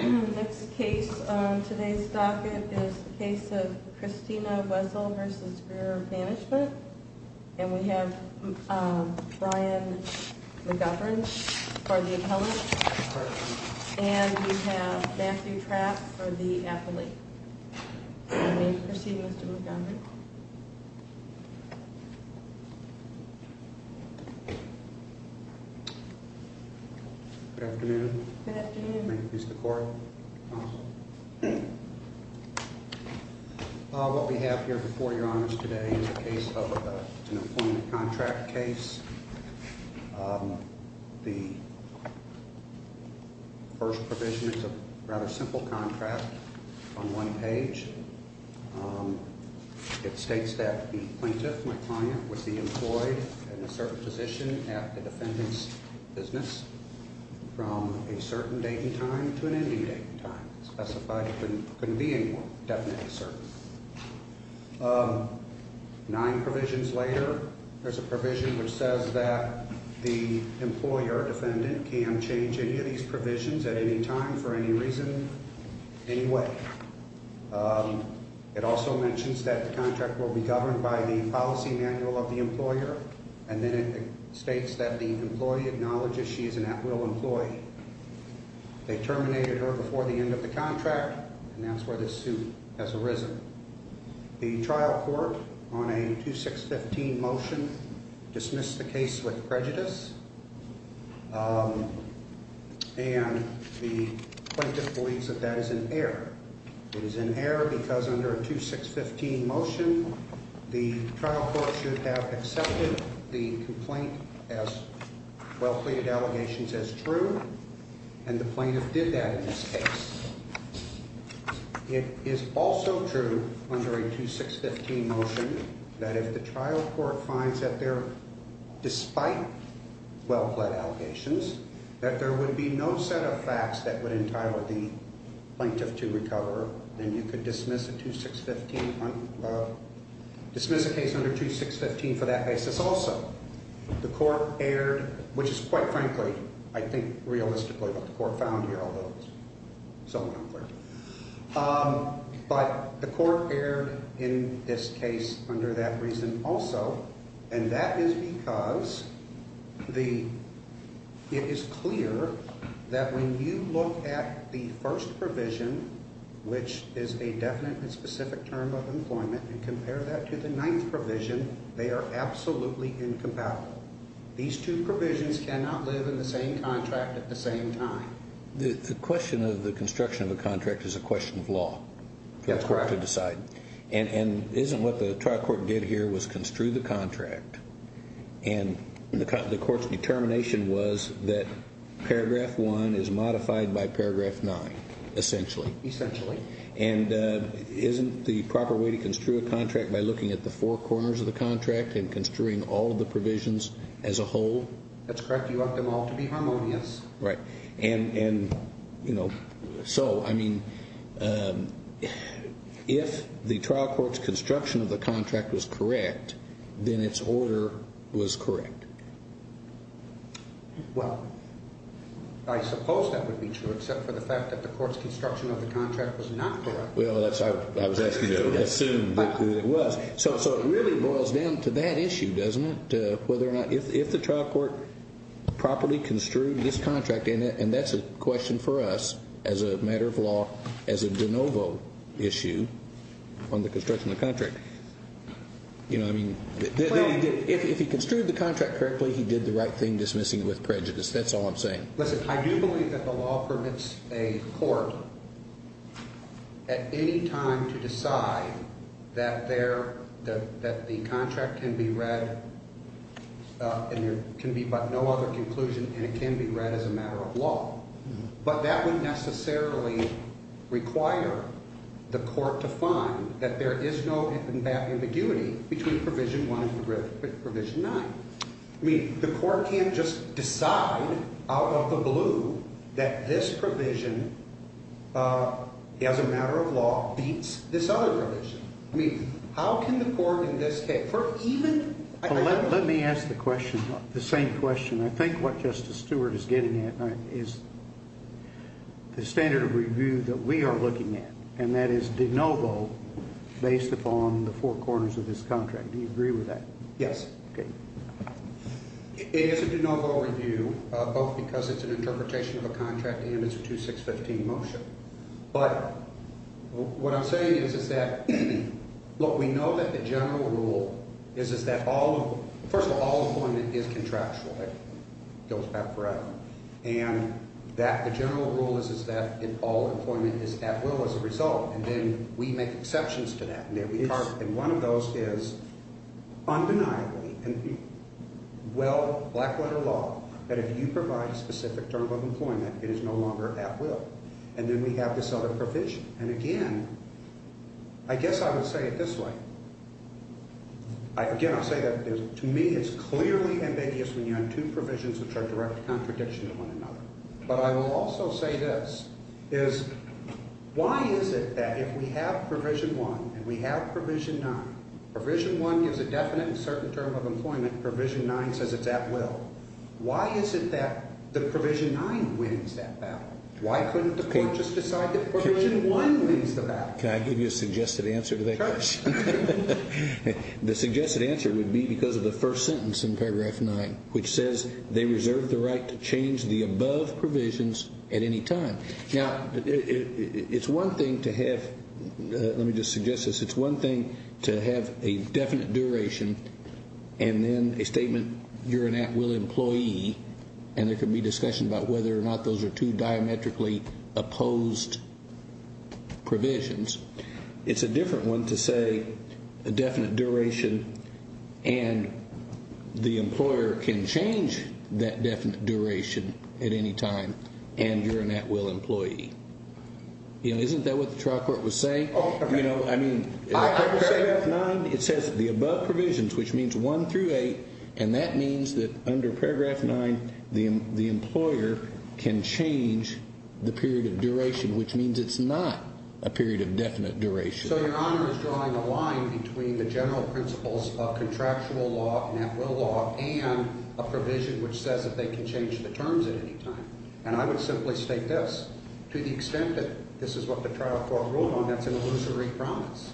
Next case on today's docket is the case of Christina Wessel v. Greer Management. And we have Brian McGovern for the appellate. And we have Matthew Trapp for the appellate. And we proceed with Mr. McGovern. Good afternoon. Good afternoon. May it please the court. What we have here before your honors today is a case of an employment contract case. The first provision is a rather simple contract on one page. It states that the plaintiff, my client, was the employee in a certain position at the defendant's business from a certain date and time to an ending date and time. It specified it couldn't be any more definite or certain. Nine provisions later, there's a provision which says that the employer, defendant, can change any of these provisions at any time for any reason, any way. It also mentions that the contract will be governed by the policy manual of the employer. And then it states that the employee acknowledges she is an at-will employee. They terminated her before the end of the contract, and that's where this suit has arisen. The trial court on a 2615 motion dismissed the case with prejudice, and the plaintiff believes that that is an error. It is an error because under a 2615 motion, the trial court should have accepted the complaint as well-pleaded allegations as true, and the plaintiff did that in this case. It is also true under a 2615 motion that if the trial court finds that there, despite well-plead allegations, that there would be no set of facts that would entitle the plaintiff to recover, then you could dismiss a case under 2615 for that basis also. The court erred, which is quite frankly, I think, realistically what the court found here, although it's somewhat unclear. But the court erred in this case under that reason also, and that is because it is clear that when you look at the first provision, which is a definite and specific term of employment, and compare that to the ninth provision, they are absolutely incompatible. These two provisions cannot live in the same contract at the same time. The question of the construction of a contract is a question of law for the court to decide, and isn't what the trial court did here was construe the contract, and the court's determination was that paragraph one is modified by paragraph nine, essentially. Essentially. And isn't the proper way to construe a contract by looking at the four corners of the contract and construing all of the provisions as a whole? That's correct. You want them all to be harmonious. Right. And so, I mean, if the trial court's construction of the contract was correct, then its order was correct. Well, I suppose that would be true, except for the fact that the court's construction of the contract was not correct. Well, I was asking you to assume that it was. So it really boils down to that issue, doesn't it, whether or not if the trial court properly construed this contract, and that's a question for us as a matter of law, as a de novo issue on the construction of the contract. You know, I mean, if he construed the contract correctly, he did the right thing dismissing it with prejudice. That's all I'm saying. Listen, I do believe that the law permits a court at any time to decide that the contract can be read and there can be but no other conclusion, and it can be read as a matter of law. But that wouldn't necessarily require the court to find that there is no ambiguity between provision one and provision nine. I mean, the court can't just decide out of the blue that this provision as a matter of law beats this other provision. I mean, how can the court in this case? Let me ask the question, the same question I think what Justice Stewart is getting at is the standard of review that we are looking at, and that is de novo based upon the four corners of this contract. Do you agree with that? Yes. Okay. It is a de novo review, both because it's an interpretation of a contract and it's a 2-6-15 motion. But what I'm saying is that, look, we know that the general rule is that all of, first of all, all employment is contractual. It goes back forever. And that the general rule is that all employment is at will as a result, and then we make exceptions to that. And one of those is undeniably, well, black letter law, that if you provide a specific term of employment, it is no longer at will. And then we have this other provision. And, again, I guess I would say it this way. Again, I'll say that to me it's clearly ambiguous when you have two provisions which are a direct contradiction to one another. But I will also say this, is why is it that if we have Provision 1 and we have Provision 9, Provision 1 gives a definite and certain term of employment, Provision 9 says it's at will. Why is it that the Provision 9 wins that battle? Why couldn't the court just decide that Provision 1 wins the battle? Can I give you a suggested answer to that? Of course. The suggested answer would be because of the first sentence in Paragraph 9, which says they reserve the right to change the above provisions at any time. Now, it's one thing to have, let me just suggest this. It's one thing to have a definite duration and then a statement you're an at will employee, and there could be discussion about whether or not those are two diametrically opposed provisions. It's a different one to say a definite duration and the employer can change that definite duration at any time and you're an at will employee. Isn't that what the trial court was saying? I mean, in Paragraph 9 it says the above provisions, which means 1 through 8, and that means that under Paragraph 9 the employer can change the period of duration, which means it's not a period of definite duration. So Your Honor is drawing a line between the general principles of contractual law and at will law and a provision which says that they can change the terms at any time. And I would simply state this. To the extent that this is what the trial court ruled on, that's an illusory promise.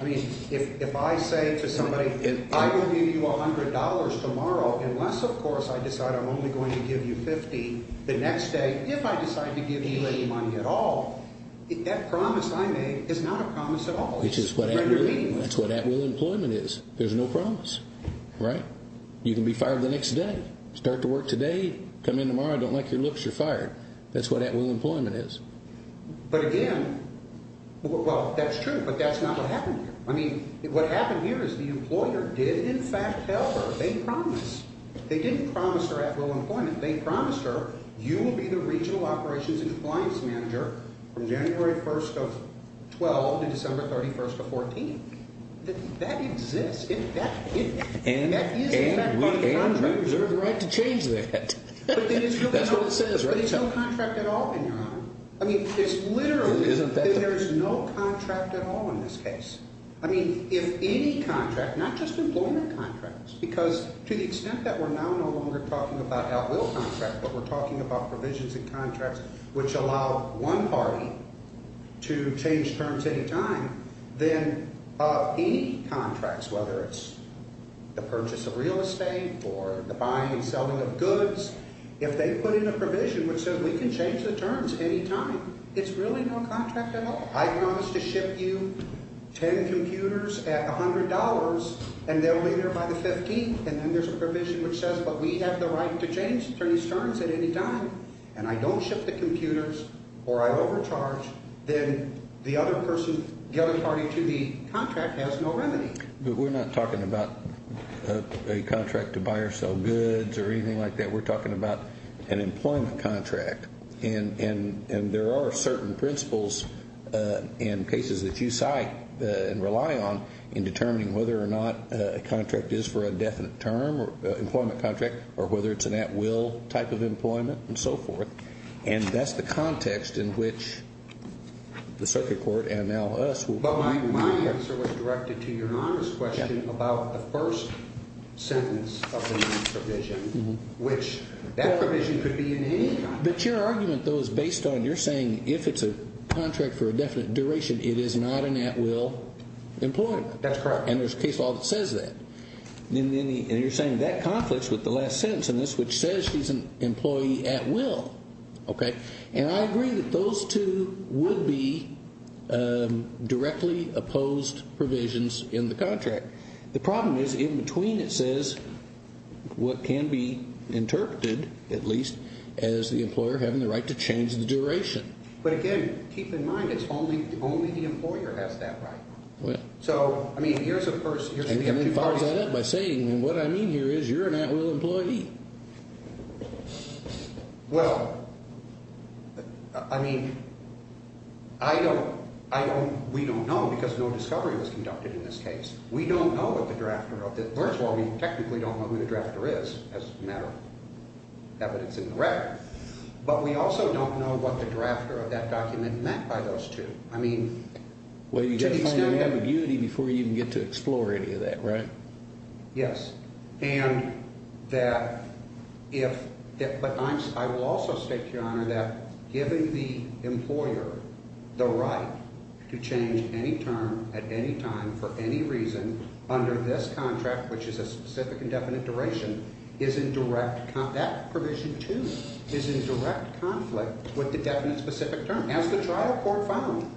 I mean, if I say to somebody, I will give you $100 tomorrow unless, of course, I decide I'm only going to give you 50 the next day. If I decide to give you any money at all, that promise I made is not a promise at all. Which is what at will employment is. There's no promise, right? You can be fired the next day, start to work today, come in tomorrow, I don't like your looks, you're fired. That's what at will employment is. But again, well, that's true, but that's not what happened here. I mean, what happened here is the employer did, in fact, tell her. They promised. They didn't promise her at will employment. They promised her you will be the regional operations and compliance manager from January 1st of 12 to December 31st of 14. That exists. That is a contract. And we reserve the right to change that. That's what it says, right? There's no contract at all in your honor. I mean, it's literally that there's no contract at all in this case. I mean, if any contract, not just employment contracts, because to the extent that we're now no longer talking about at will contracts, but we're talking about provisions and contracts which allow one party to change terms any time, then any contracts, whether it's the purchase of real estate or the buying and selling of goods, if they put in a provision which says we can change the terms any time, it's really no contract at all. I promise to ship you 10 computers at $100, and they'll be there by the 15th. And then there's a provision which says, but we have the right to change terms at any time, and I don't ship the computers or I overcharge, then the other person, the other party to the contract has no remedy. But we're not talking about a contract to buy or sell goods or anything like that. We're talking about an employment contract. And there are certain principles in cases that you cite and rely on in determining whether or not a contract is for a definite term, employment contract, or whether it's an at will type of employment and so forth. And that's the context in which the circuit court and now us. But my answer was directed to Your Honor's question about the first sentence of the new provision, which that provision could be in any contract. But your argument, though, is based on you're saying if it's a contract for a definite duration, it is not an at will employment. That's correct. And there's a case law that says that. And you're saying that conflicts with the last sentence in this, which says she's an employee at will. Okay. And I agree that those two would be directly opposed provisions in the contract. The problem is in between it says what can be interpreted, at least, as the employer having the right to change the duration. But, again, keep in mind it's only the employer has that right. So, I mean, here's a person. And then it follows that up by saying what I mean here is you're an at will employee. Well, I mean, I don't, I don't, we don't know because no discovery was conducted in this case. We don't know what the drafter of this, first of all, we technically don't know who the drafter is as a matter of evidence in the record. But we also don't know what the drafter of that document meant by those two. I mean, to the extent that. Well, you've got to find your ambiguity before you even get to explore any of that, right? Yes. And that if, but I will also state, Your Honor, that giving the employer the right to change any term at any time for any reason under this contract, which is a specific and definite duration, is in direct, that provision, too, is in direct conflict with the definite specific term. As the trial court found.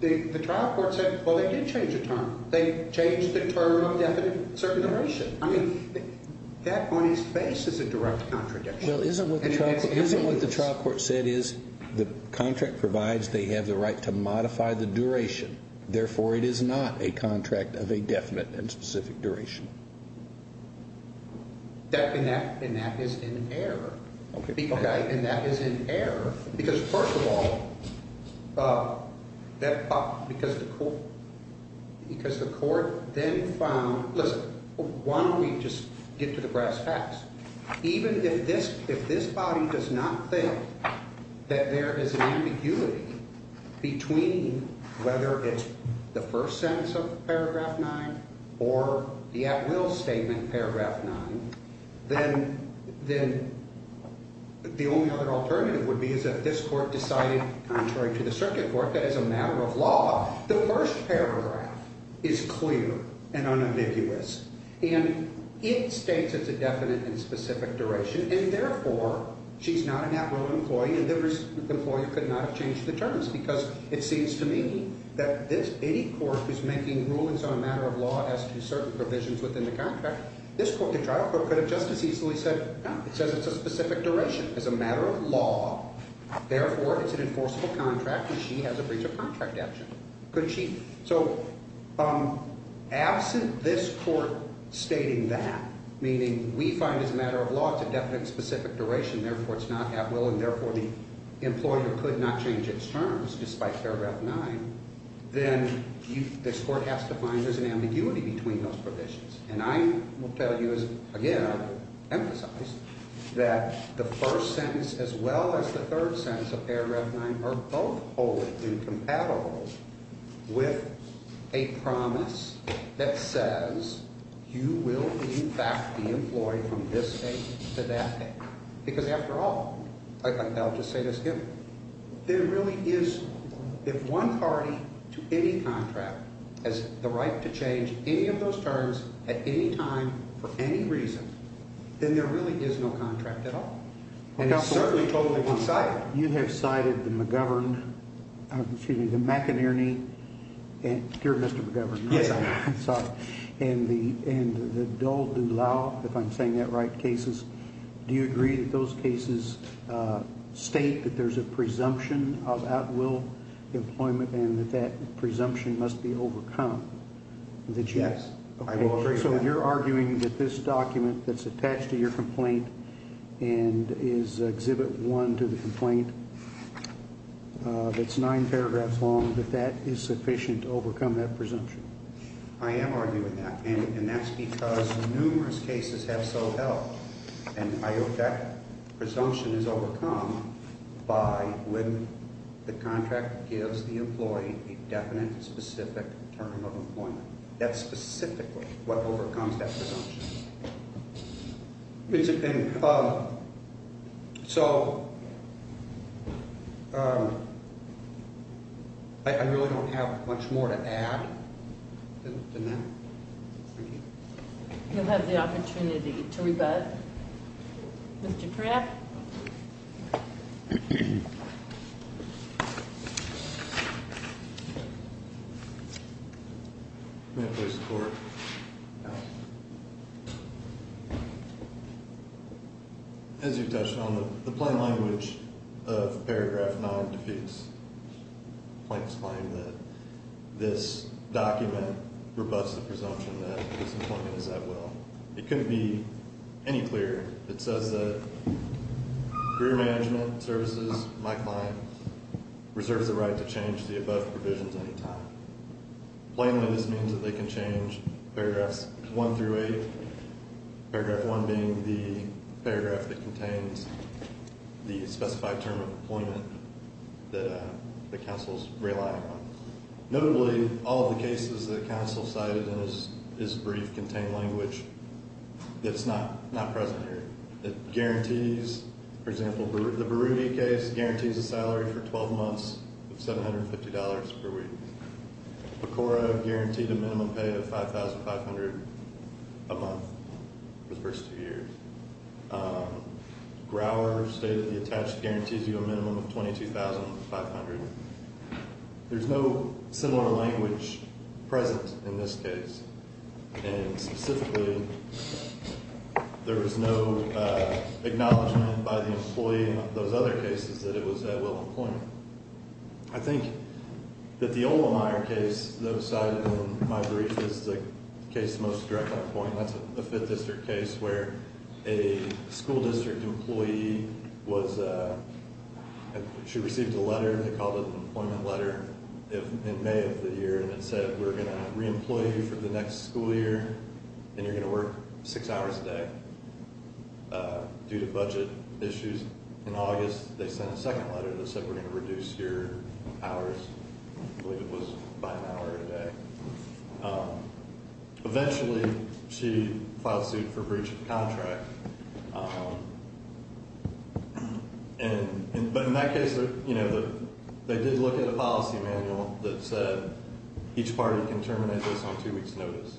The trial court said, well, they did change a term. They changed the term of definite and specific duration. I mean, that on its face is a direct contradiction. Well, isn't what the trial court, isn't what the trial court said is the contract provides they have the right to modify the duration. Therefore, it is not a contract of a definite and specific duration. That, and that, and that is in error. Okay. Because, first of all, because the court, because the court then found, listen, why don't we just get to the brass tacks? Even if this, if this body does not think that there is an ambiguity between whether it's the first sentence of paragraph nine or the at will statement paragraph nine, then, then the only other alternative would be is that this court decided, contrary to the circuit court, that as a matter of law, the first paragraph is clear and unambiguous. And it states it's a definite and specific duration. And, therefore, she's not an at will employee and the employee could not have changed the terms. Because it seems to me that this, any court who's making rulings on a matter of law has to do certain provisions within the contract. This court, the trial court, could have just as easily said, no, it says it's a specific duration. As a matter of law, therefore, it's an enforceable contract and she has a breach of contract action. Could she? So absent this court stating that, meaning we find as a matter of law it's a definite and specific duration, therefore, it's not at will, and, therefore, the employer could not change its terms despite paragraph nine, then this court has to find there's an ambiguity between those provisions. And I will tell you as, again, emphasize that the first sentence as well as the third sentence of paragraph nine are both wholly incompatible with a promise that says you will, in fact, be employed from this date to that date. Because, after all, I'll just say this, if there really is, if one party to any contract has the right to change any of those terms at any time for any reason, then there really is no contract at all. And it's certainly totally one-sided. You have cited the McGovern, excuse me, the McInerney. You're Mr. McGovern. Yes, I am. And the Dole DuLau, if I'm saying that right, cases. Do you agree that those cases state that there's a presumption of at-will employment and that that presumption must be overcome? Yes, I do agree with that. So you're arguing that this document that's attached to your complaint and is exhibit one to the complaint that's nine paragraphs long, that that is sufficient to overcome that presumption? I am arguing that. And that's because numerous cases have so held. And I hope that presumption is overcome by when the contract gives the employee a definite, specific term of employment. That's specifically what overcomes that presumption. So I really don't have much more to add than that. You'll have the opportunity to rebut. Mr. Pratt? May I please report? Go ahead. As you touched on, the plain language of paragraph nine defeats Plank's claim that this document rebuts the presumption that this employment is at-will. It couldn't be any clearer. It says that Career Management Services, my client, reserves the right to change the above provisions any time. Plainly, this means that they can change paragraphs one through eight, paragraph one being the paragraph that contains the specified term of employment that the counsel's relying on. Notably, all of the cases that counsel cited in this brief contain language that's not present here. It guarantees, for example, the Baruti case guarantees a salary for 12 months of $750 per week. PCORA guaranteed a minimum pay of $5,500 a month for the first two years. Grower stated the attached guarantees you a minimum of $22,500. There's no similar language present in this case. And specifically, there was no acknowledgement by the employee in those other cases that it was at-will employment. I think that the Oldemeyer case that was cited in my brief is the case most direct on point. And that's a fifth district case where a school district employee was, she received a letter. They called it an employment letter in May of the year. And it said, we're going to re-employ you for the next school year, and you're going to work six hours a day due to budget issues. In August, they sent a second letter that said, we're going to reduce your hours. I believe it was by an hour a day. Eventually, she filed suit for breach of contract. But in that case, you know, they did look at a policy manual that said each party can terminate this on two weeks' notice.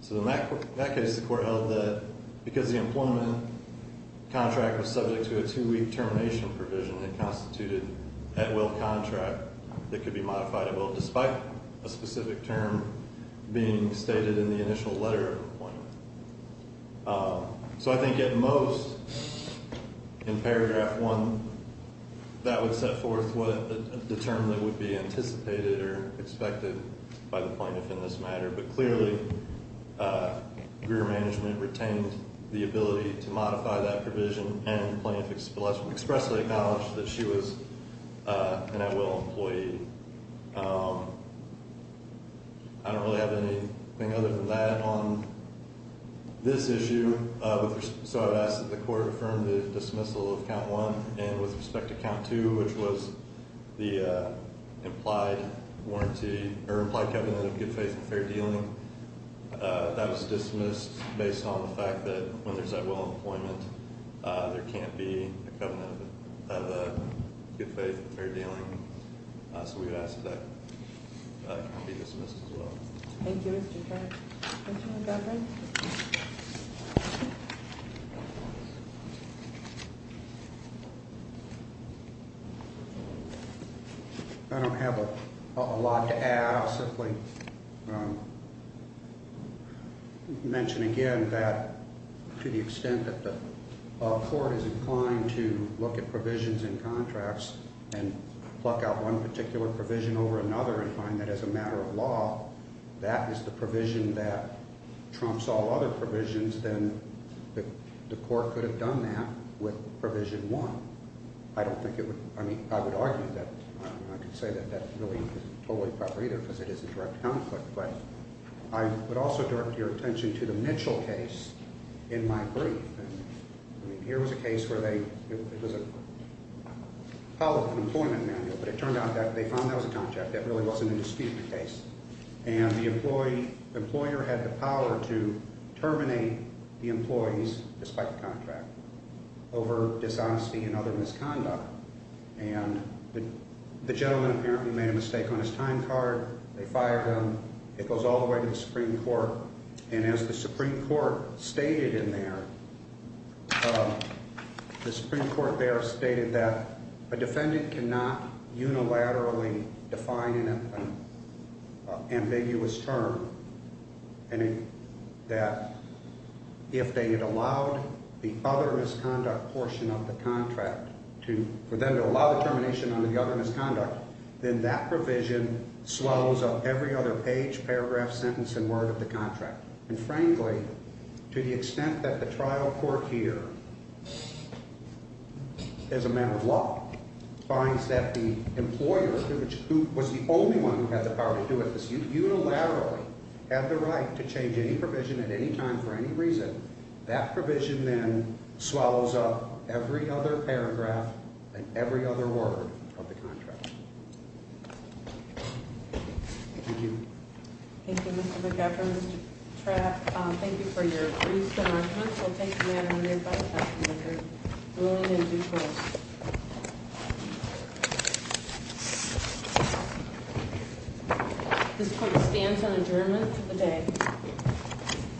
So in that case, the court held that because the employment contract was subject to a two-week termination provision that constituted at-will contract that could be modified at will, despite a specific term being stated in the initial letter of employment. So I think at most, in paragraph one, that would set forth the term that would be anticipated or expected by the plaintiff in this matter. But clearly, career management retained the ability to modify that provision, and plaintiff expressly acknowledged that she was an at-will employee. I don't really have anything other than that on this issue. So I would ask that the court affirm the dismissal of count one. And with respect to count two, which was the implied warranty or implied covenant of good faith and fair dealing, that was dismissed based on the fact that when there's at-will employment, there can't be a covenant of good faith and fair dealing. So we would ask that that can be dismissed as well. Thank you, Mr. Turner. I don't have a lot to add. I'll simply mention again that to the extent that the court is inclined to look at provisions in contracts and pluck out one particular provision over another and find that as a matter of law, that is the provision that trumps all other provisions, then the court could have done that with provision one. I don't think it would – I mean, I would argue that. I could say that that really isn't totally proper either because it is a direct conflict. But I would also direct your attention to the Mitchell case in my brief. I mean, here was a case where they – it was a public employment manual, but it turned out that they found that was a contract. That really wasn't a dispute in the case. And the employee – the employer had the power to terminate the employees despite the contract over dishonesty and other misconduct. And the gentleman apparently made a mistake on his time card. They fired him. It goes all the way to the Supreme Court. And as the Supreme Court stated in there, the Supreme Court there stated that a defendant cannot unilaterally define an ambiguous term and that if they had allowed the other misconduct portion of the contract to – for them to allow the termination on the other misconduct, then that provision swallows up every other page, paragraph, sentence, and word of the contract. And frankly, to the extent that the trial court here, as a matter of law, finds that the employer, who was the only one who had the power to do it, unilaterally had the right to change any provision at any time for any reason, that provision then swallows up every other paragraph and every other word of the contract. Thank you. Thank you, Mr. McGovern, Mr. Trapp. Thank you for your briefs and arguments. We'll take them out in a minute, but I'd like to make a ruling in due course. This court stands on adjournment for the day.